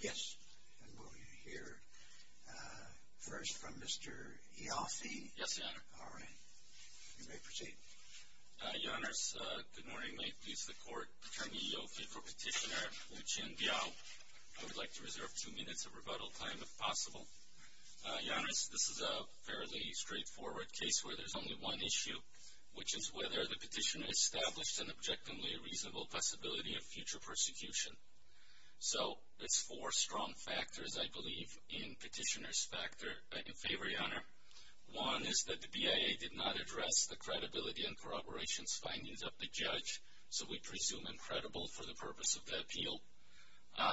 Yes, and we'll hear first from Mr. Ioffe. Yes, Your Honor. All right. You may proceed. Your Honors, good morning. May it please the Court to turn to Ioffe for Petitioner Wuqian Biao. I would like to reserve two minutes of rebuttal time, if possible. Your Honors, this is a fairly straightforward case where there's only one issue, which is whether the petitioner established an objectively reasonable possibility of future persecution. So there's four strong factors, I believe, in Petitioner's favor, Your Honor. One is that the BIA did not address the credibility and corroborations findings of the judge, so we presume incredible for the purpose of the appeal.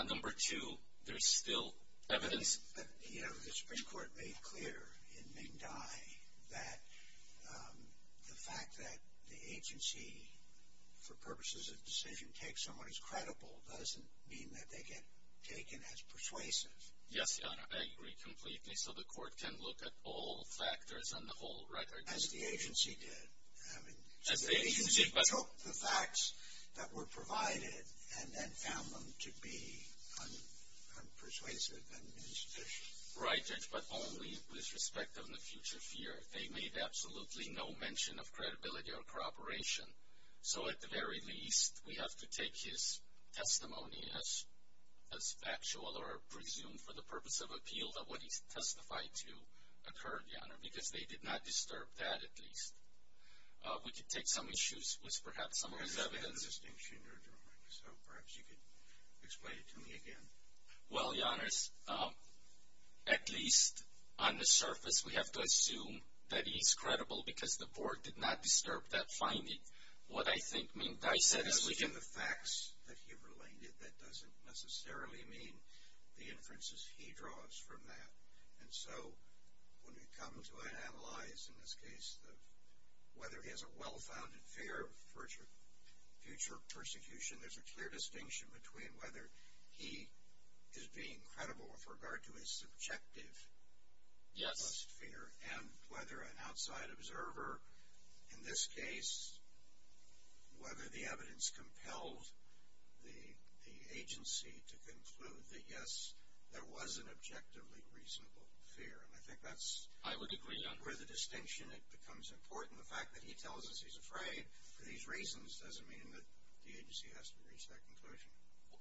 Number two, there's still evidence. But, you know, the Supreme Court made clear in Ming Dai that the fact that the agency, for purposes of decision, takes someone as credible doesn't mean that they get taken as persuasive. Yes, Your Honor, I agree completely. So the Court can look at all factors on the whole, right? As the agency did. The agency took the facts that were provided and then found them to be unpersuasive and insufficient. Right, Judge, but only with respect to the future fear. They made absolutely no mention of credibility or corroboration. So at the very least, we have to take his testimony as factual or presume for the purpose of appeal that what he testified to occurred, Your Honor, because they did not disturb that, at least. We could take some issues with, perhaps, some of his evidence. I understand the distinction you're drawing, so perhaps you could explain it to me again. Well, Your Honors, at least on the surface, we have to assume that he is credible because the Board did not disturb that finding. What I think Ming Dai said is we can... I said those are the facts that he related. That doesn't necessarily mean the inferences he draws from that. And so when we come to analyze, in this case, whether he has a well-founded fear of future persecution, there's a clear distinction between whether he is being credible with regard to his subjective fear and whether an outside observer, in this case, whether the evidence compelled the agency to conclude that, yes, there was an objectively reasonable fear. And I think that's where the distinction becomes important. The fact that he tells us he's afraid for these reasons doesn't mean that the agency has to reach that conclusion.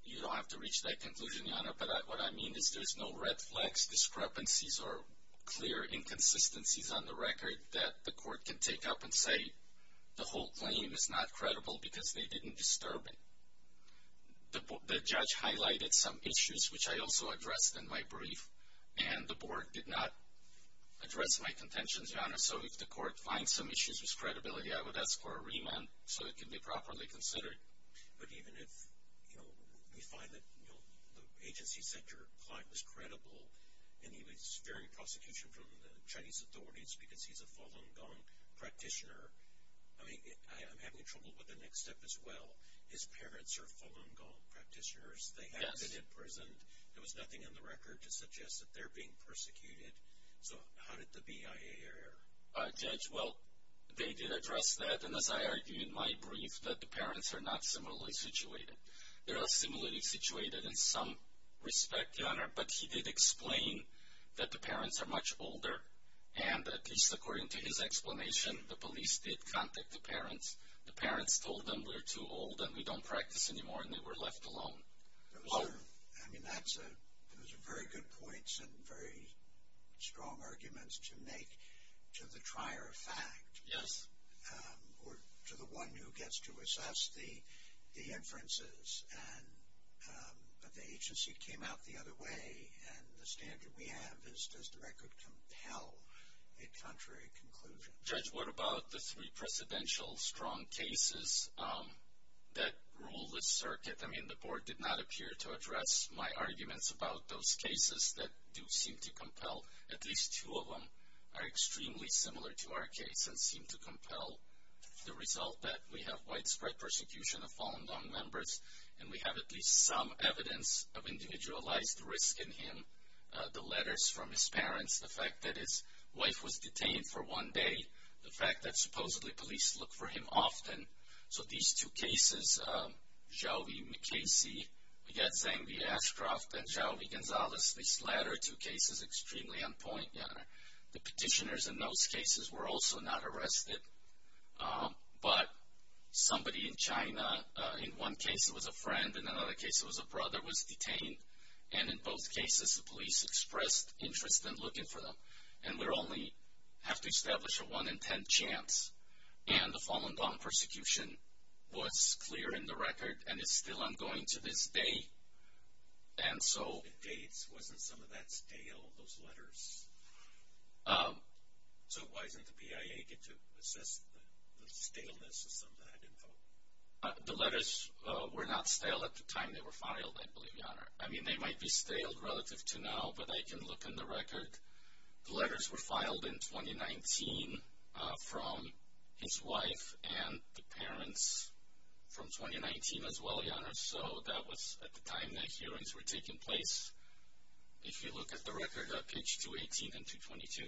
You don't have to reach that conclusion, Your Honor, but what I mean is there's no red flags, discrepancies, or clear inconsistencies on the record that the court can take up and say the whole claim is not credible because they didn't disturb it. The judge highlighted some issues, which I also addressed in my brief, and the Board did not address my contentions, Your Honor. So if the court finds some issues with credibility, I would ask for a remand so it can be properly considered. But even if, you know, we find that the agency said your client was credible and he was fearing prosecution from the Chinese authorities because he's a Falun Gong practitioner, I mean, I'm having trouble with the next step as well. His parents are Falun Gong practitioners. They have been imprisoned. There was nothing in the record to suggest that they're being persecuted. So how did the BIA err? Judge, well, they did address that, and as I argued in my brief, that the parents are not similarly situated. They are similarly situated in some respect, Your Honor, but he did explain that the parents are much older, and at least according to his explanation, the police did contact the parents. The parents told them we're too old and we don't practice anymore and they were left alone. I mean, those are very good points and very strong arguments to make to the trier of fact. Yes. To the one who gets to assess the inferences, but the agency came out the other way, and the standard we have is does the record compel a contrary conclusion? Judge, what about the three precedential strong cases that rule this circuit? I mean, the Board did not appear to address my arguments about those cases that do seem to compel. At least two of them are extremely similar to our case and seem to compel the result that we have widespread persecution of Falun Gong members, and we have at least some evidence of individualized risk in him. The letters from his parents, the fact that his wife was detained for one day, the fact that supposedly police look for him often. So these two cases, Xiaovi Mikesi, we got Zeng V. Ashcroft, and Xiaovi Gonzalez, these latter two cases, extremely on point. The petitioners in those cases were also not arrested, but somebody in China, in one case it was a friend, in another case it was a brother, was detained, and in both cases the police expressed interest in looking for them, and we only have to establish a one in ten chance, and the Falun Gong persecution was clear in the record and is still ongoing to this day. The dates, wasn't some of that stale, those letters? So why didn't the PIA get to assess the staleness of some of that info? The letters were not stale at the time they were filed, I believe, Your Honor. I mean, they might be stale relative to now, but I can look in the record. The letters were filed in 2019 from his wife and the parents from 2019 as well, Your Honor, so that was at the time the hearings were taking place. If you look at the record, page 218 and 222.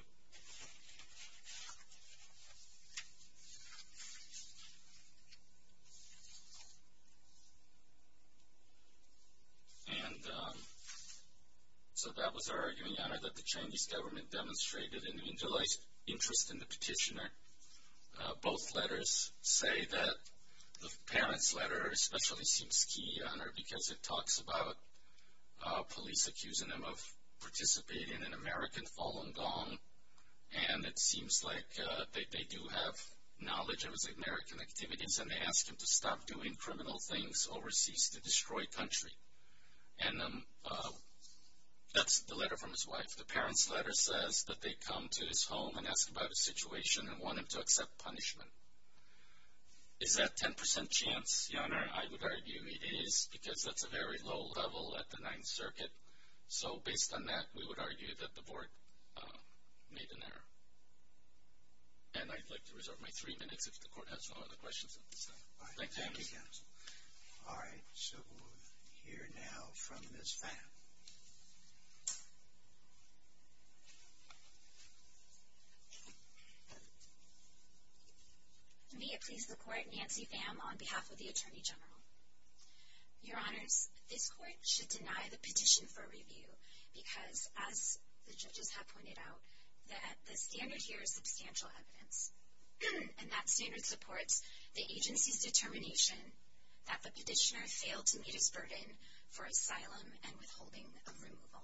And so that was our argument, Your Honor, that the Chinese government demonstrated an individualized interest in the petitioner. Both letters say that the parents' letter especially seems key, Your Honor, because it talks about police accusing him of participating in American Falun Gong, and it seems like they do have knowledge of his American activities, and they ask him to stop doing criminal things overseas to destroy country. And that's the letter from his wife. If the parents' letter says that they come to his home and ask about his situation and want him to accept punishment, is that 10% chance, Your Honor? I would argue it is because that's a very low level at the Ninth Circuit. So based on that, we would argue that the Board made an error. And I'd like to reserve my three minutes if the Court has no other questions at this time. Thank you. All right. So we'll hear now from Ms. Pham. May it please the Court, Nancy Pham on behalf of the Attorney General. Your Honors, this Court should deny the petition for review because, as the judges have pointed out, that the standard here is substantial evidence, and that standard supports the agency's determination that the petitioner failed to meet his burden for asylum and withholding of removal.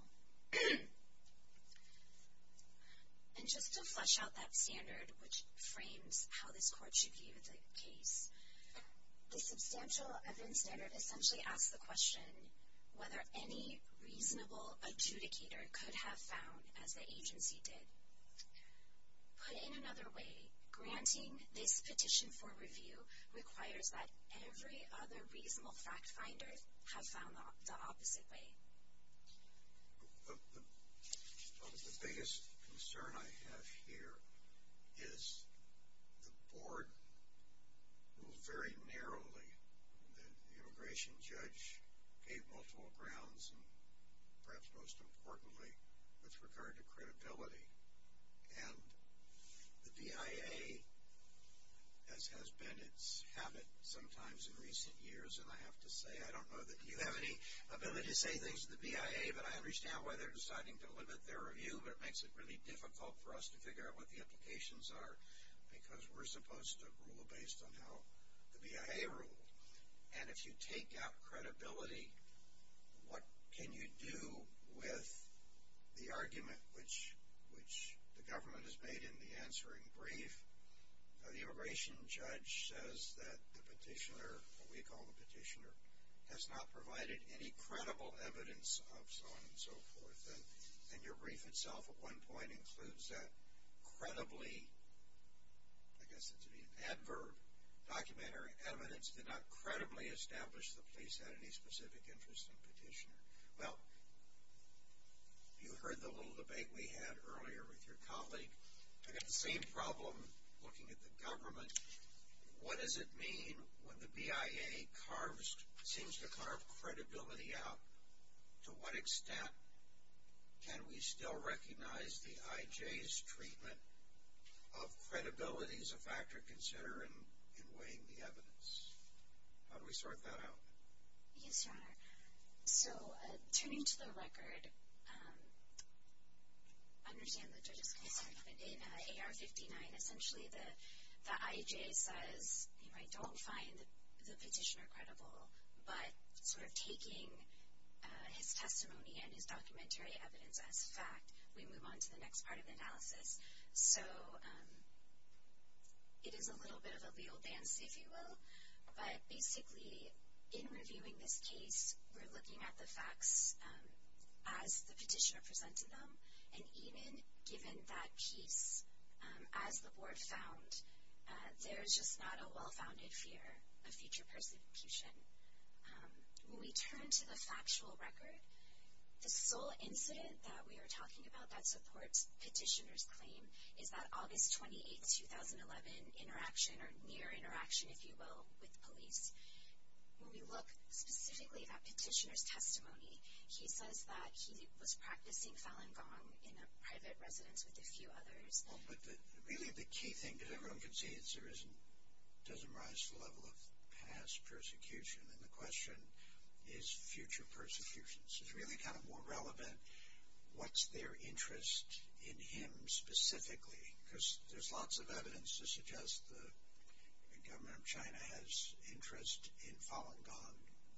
And just to flesh out that standard, which frames how this Court should view the case, the substantial evidence standard essentially asks the question whether any reasonable adjudicator could have found, as the agency did, put in another way, granting this petition for review requires that every other reasonable fact finder have found the opposite way. The biggest concern I have here is the Board moved very narrowly. The immigration judge gave multiple grounds, and perhaps most importantly, with regard to credibility. And the BIA, as has been its habit sometimes in recent years, and I have to say, I don't know that you have any ability to say things to the BIA, but I understand why they're deciding to limit their review, but it makes it really difficult for us to figure out what the implications are, because we're supposed to rule based on how the BIA ruled. And if you take out credibility, what can you do with the argument which the government has made in the answering brief? The immigration judge says that the petitioner, what we call the petitioner, has not provided any credible evidence of so on and so forth. And your brief itself, at one point, includes that credibly, I guess it's an adverb, documentary evidence, did not credibly establish the police had any specific interest in the petitioner. Well, you heard the little debate we had earlier with your colleague. I got the same problem looking at the government. What does it mean when the BIA seems to carve credibility out? To what extent can we still recognize the IJ's treatment of credibility as a factor to consider in weighing the evidence? How do we sort that out? Yes, Your Honor. So, turning to the record, I understand the judge's concern, but in AR-59, essentially the IJ says, you know, I don't find the petitioner credible, but sort of taking his testimony and his documentary evidence as fact, we move on to the next part of the analysis. So it is a little bit of a legal dance, if you will, but basically in reviewing this case we're looking at the facts as the petitioner presented them, and even given that piece, as the board found, there's just not a well-founded fear of future persecution. When we turn to the factual record, the sole incident that we are talking about that supports petitioner's claim is that August 28, 2011 interaction, or near interaction, if you will, with police. When we look specifically at petitioner's testimony, he says that he was practicing Falun Gong in a private residence with a few others. But really the key thing, because everyone can see, is there doesn't rise to the level of past persecution, and the question is future persecution. So it's really kind of more relevant, what's their interest in him specifically, because there's lots of evidence to suggest the government of China has interest in Falun Gong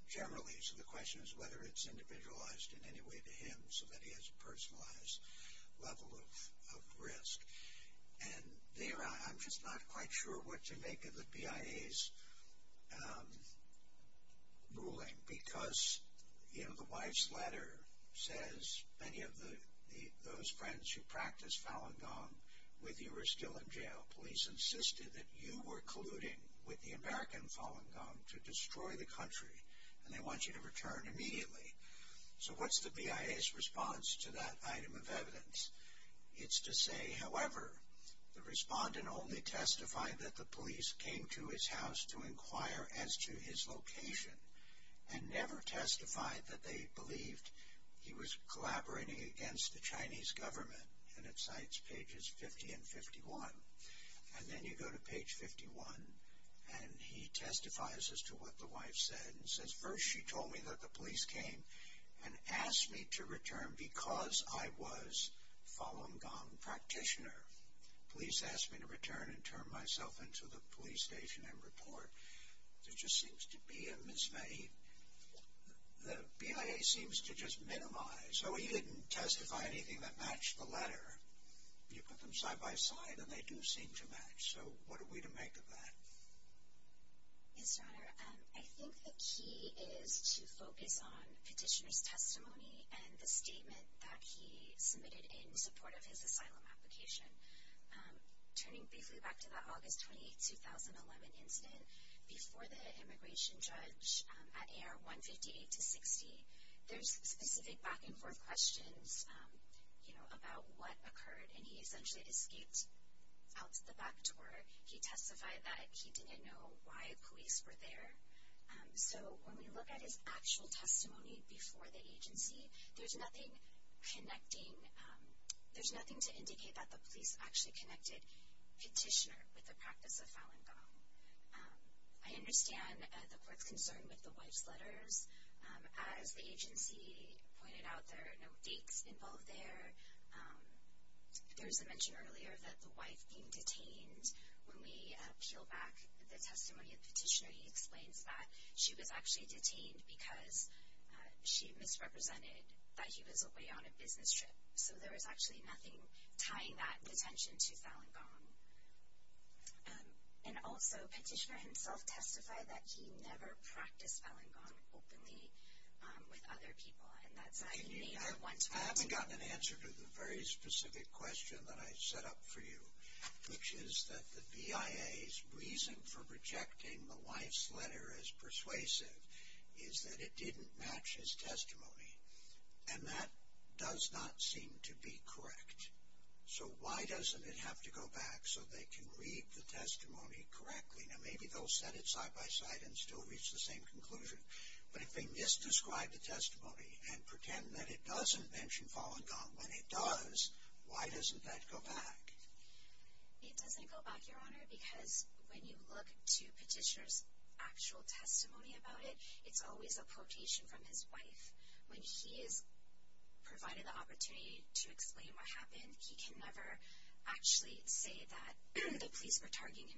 generally. So the question is whether it's individualized in any way to him, so that he has a personalized level of risk. And there I'm just not quite sure what to make of the BIA's ruling, because the wife's letter says many of those friends who practiced Falun Gong with you were still in jail. Police insisted that you were colluding with the American Falun Gong to destroy the country, and they want you to return immediately. So what's the BIA's response to that item of evidence? It's to say, however, the respondent only testified that the police came to his house to inquire as to his location, and never testified that they believed he was collaborating against the Chinese government. And it cites pages 50 and 51. And then you go to page 51, and he testifies as to what the wife said, and says, first she told me that the police came and asked me to return because I was Falun Gong practitioner. Police asked me to return and turn myself in to the police station and report. There just seems to be a mismatch. The BIA seems to just minimize. So he didn't testify anything that matched the letter. You put them side by side, and they do seem to match. So what are we to make of that? Yes, Your Honor, I think the key is to focus on petitioner's testimony and the statement that he submitted in support of his asylum application. Turning briefly back to the August 28, 2011 incident, before the immigration judge at AR-158-60, there's specific back and forth questions about what occurred, and he essentially escaped out the back door. He testified that he didn't know why police were there. So when we look at his actual testimony before the agency, there's nothing connecting, there's nothing to indicate that the police actually connected petitioner with the practice of Falun Gong. As the agency pointed out, there are no dates involved there. There was a mention earlier that the wife being detained. When we peel back the testimony of the petitioner, he explains that she was actually detained because she misrepresented that he was away on a business trip. So there was actually nothing tying that detention to Falun Gong. And also, petitioner himself testified that he never practiced Falun Gong openly with other people, and that's why he may not want to continue. I haven't gotten an answer to the very specific question that I set up for you, which is that the BIA's reason for rejecting the wife's letter as persuasive is that it didn't match his testimony, and that does not seem to be correct. So why doesn't it have to go back so they can read the testimony correctly? Now maybe they'll set it side by side and still reach the same conclusion, but if they misdescribe the testimony and pretend that it doesn't mention Falun Gong when it does, why doesn't that go back? It doesn't go back, Your Honor, because when you look to petitioner's actual testimony about it, it's always a quotation from his wife. When he is provided the opportunity to explain what happened, he can never actually say that the police were targeting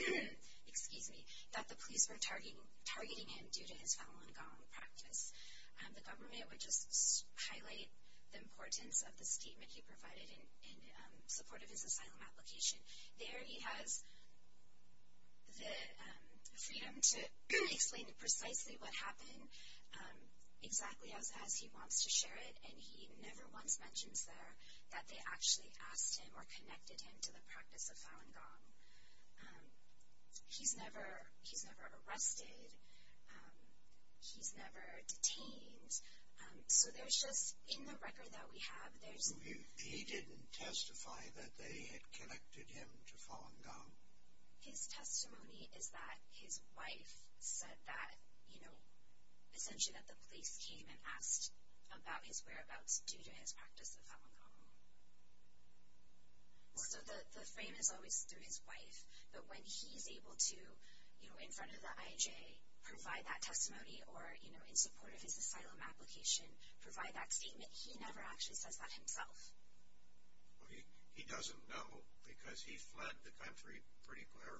him due to his Falun Gong practice. The government would just highlight the importance of the statement he provided in support of his asylum application. There he has the freedom to explain precisely what happened exactly as he wants to share it, and he never once mentions there that they actually asked him or connected him to the practice of Falun Gong. He's never arrested. He's never detained. So there's just, in the record that we have, there's... So he didn't testify that they had connected him to Falun Gong? His testimony is that his wife said that, you know, essentially that the police came and asked about his whereabouts due to his practice of Falun Gong. So the frame is always through his wife, but when he's able to, you know, in front of the IJ, provide that testimony or, you know, in support of his asylum application, provide that statement, he never actually says that himself. He doesn't know because he fled the country, pretty clear,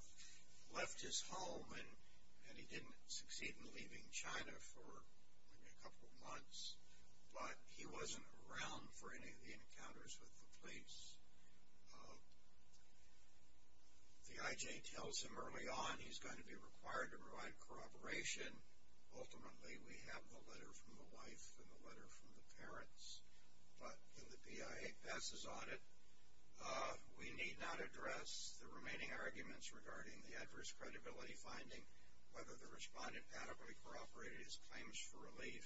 left his home, and he didn't succeed in leaving China for maybe a couple of months, but he wasn't around for any of the encounters with the police. The IJ tells him early on he's going to be required to provide corroboration. Ultimately, we have the letter from the wife and the letter from the parents. But the PI passes on it. We need not address the remaining arguments regarding the adverse credibility finding, whether the respondent adequately corroborated his claims for relief.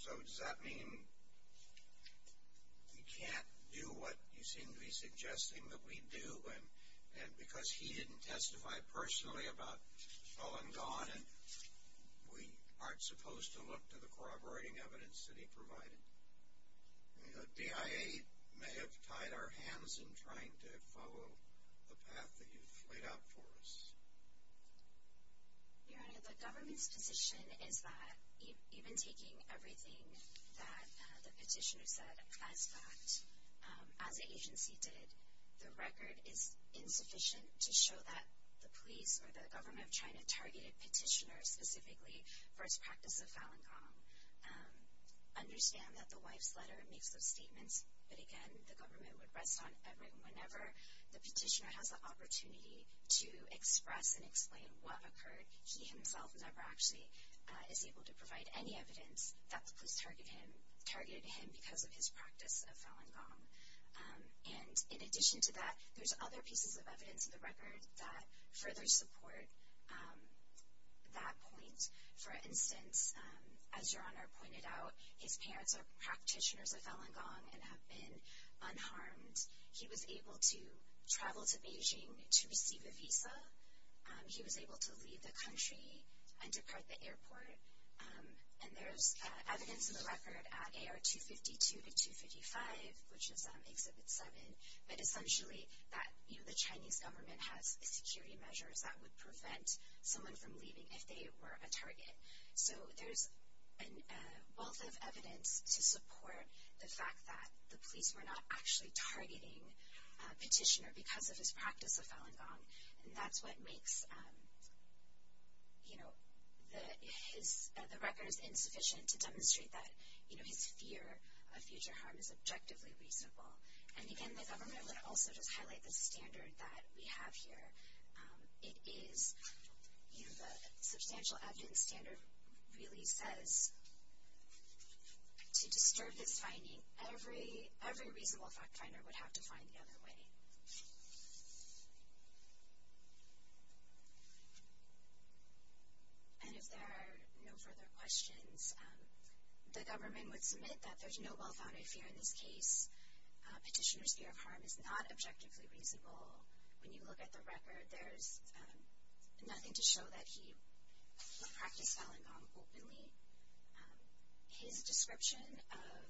So does that mean we can't do what you seem to be suggesting that we do? And because he didn't testify personally about Falun Gong, we aren't supposed to look to the corroborating evidence that he provided? The DIA may have tied our hands in trying to follow the path that you've laid out for us. Your Honor, the government's position is that even taking everything that the petitioner said as fact, as the agency did, the record is insufficient to show that the police or the government of China targeted petitioners specifically for his practice of Falun Gong. Understand that the wife's letter makes those statements, but, again, the government would rest on every and whenever the petitioner has the opportunity to express and explain what occurred, he himself never actually is able to provide any evidence that the police targeted him because of his practice of Falun Gong. And in addition to that, there's other pieces of evidence in the record that further support that point. For instance, as Your Honor pointed out, his parents are practitioners of Falun Gong and have been unharmed. He was able to travel to Beijing to receive a visa. He was able to leave the country and depart the airport. And there's evidence in the record at AR 252 to 255, which is Exhibit 7, but essentially that the Chinese government has security measures that would prevent someone from leaving if they were a target. So there's a wealth of evidence to support the fact that the police were not actually targeting a petitioner because of his practice of Falun Gong, and that's what makes the records insufficient to demonstrate that his fear of future harm is objectively reasonable. And, again, the government would also just highlight the standard that we have here. It is the substantial evidence standard really says to disturb this finding, every reasonable fact finder would have to find the other way. And if there are no further questions, the government would submit that there's no well-founded fear in this case. Petitioner's fear of harm is not objectively reasonable. When you look at the record, there's nothing to show that he would practice Falun Gong openly. His description of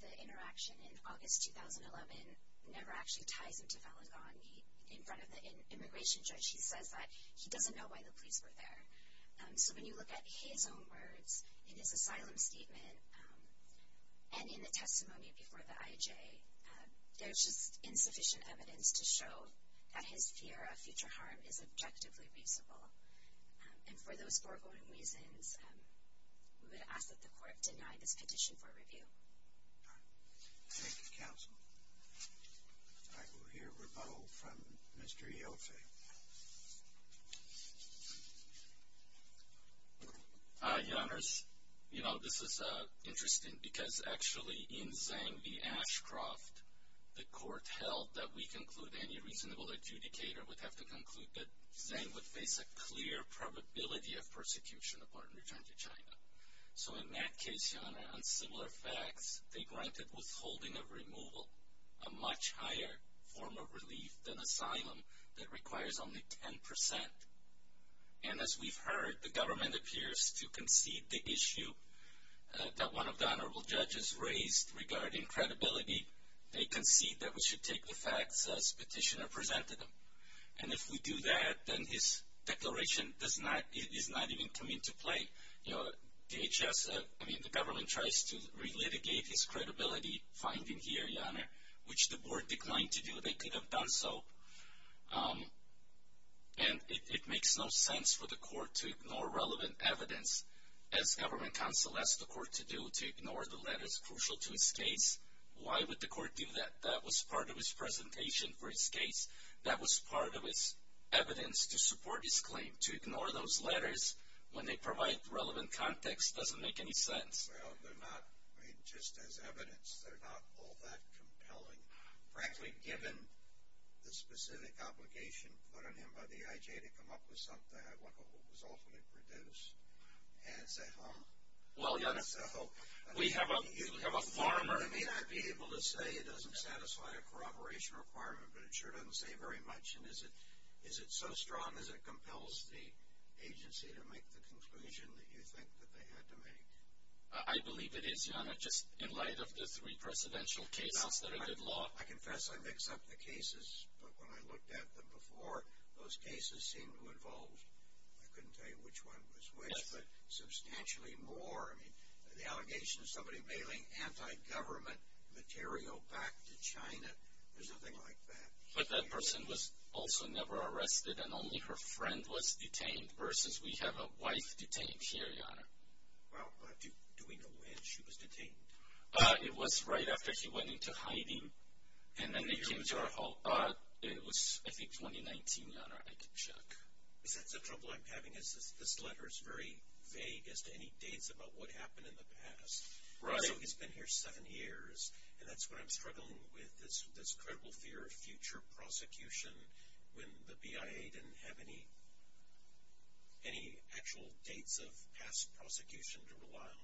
the interaction in August 2011 never actually ties him to Falun Gong. In front of the immigration judge, he says that he doesn't know why the police were there. So when you look at his own words in his asylum statement and in the testimony before the IJ, there's just insufficient evidence to show that his fear of future harm is objectively reasonable. And for those foregoing reasons, we would ask that the court deny this petition for review. Thank you, counsel. All right. We'll hear a rebuttal from Mr. Ioffe. Your Honors, you know, this is interesting because actually in Zhang v. Ashcroft, the court held that we conclude any reasonable adjudicator would have to conclude that Zhang would face a clear probability of persecution upon return to China. So in that case, Your Honor, on similar facts, they granted withholding of removal, a much higher form of relief than asylum that requires only 10%. And as we've heard, the government appears to concede the issue that one of the Honorable Judges raised regarding credibility. They concede that we should take the facts as Petitioner presented them. And if we do that, then his declaration does not even come into play. You know, DHS, I mean, the government tries to relitigate his credibility finding here, Your Honor, which the board declined to do. They could have done so. And it makes no sense for the court to ignore relevant evidence, as government counsel asked the court to do, to ignore the letters crucial to his case. Why would the court do that? That was part of his presentation for his case. That was part of his evidence to support his claim, to ignore those letters when they provide relevant context. It doesn't make any sense. Well, they're not, I mean, just as evidence, they're not all that compelling. Frankly, given the specific obligation put on him by the IJ to come up with something, I look at what was ultimately produced as a home. Well, Your Honor, we have a farmer. I mean, I'd be able to say it doesn't satisfy a corroboration requirement, but it sure doesn't say very much. And is it so strong as it compels the agency to make the conclusion that you think that they had to make? I believe it is, Your Honor, just in light of the three precedential cases that are good law. I confess I mix up the cases, but when I looked at them before, those cases seemed to involve, I couldn't tell you which one was which, but substantially more. I mean, the allegation of somebody mailing anti-government material back to China, there's nothing like that here. But that person was also never arrested, and only her friend was detained, versus we have a wife detained here, Your Honor. Well, do we know when she was detained? It was right after she went into hiding, and then they came to our home. It was, I think, 2019, Your Honor. I can check. Is that the trouble I'm having is this letter is very vague as to any dates about what happened in the past. Right. So he's been here seven years, and that's what I'm struggling with is this credible fear of future prosecution when the BIA didn't have any actual dates of past prosecution to rely on.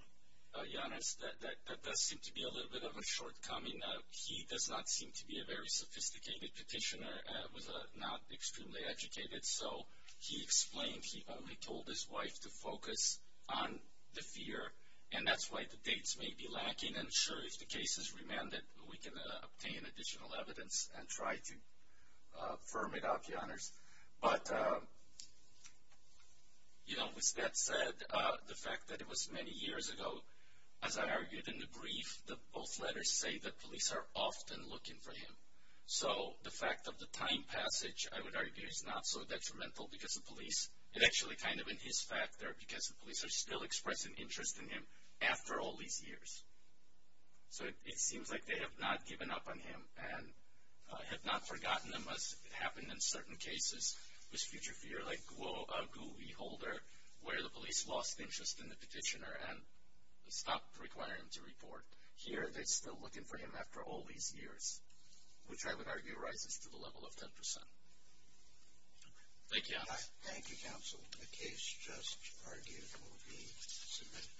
Your Honor, that does seem to be a little bit of a shortcoming. He does not seem to be a very sophisticated petitioner, was not extremely educated, so he explained he only told his wife to focus on the fear, and that's why the dates may be lacking. I'm sure if the case is remanded, we can obtain additional evidence and try to firm it up, Your Honors. But, you know, with that said, the fact that it was many years ago, as I argued in the brief, both letters say that police are often looking for him. So the fact of the time passage, I would argue, is not so detrimental because the police, it's actually kind of in his factor because the police are still expressing interest in him after all these years. So it seems like they have not given up on him and have not forgotten him as it happened in certain cases with future fear, like a GUI holder where the police lost interest in the petitioner and stopped requiring to report. Here, they're still looking for him after all these years, which I would argue rises to the level of 10%. Thank you, Your Honors. Thank you, Counsel. The case just argued will be submitted.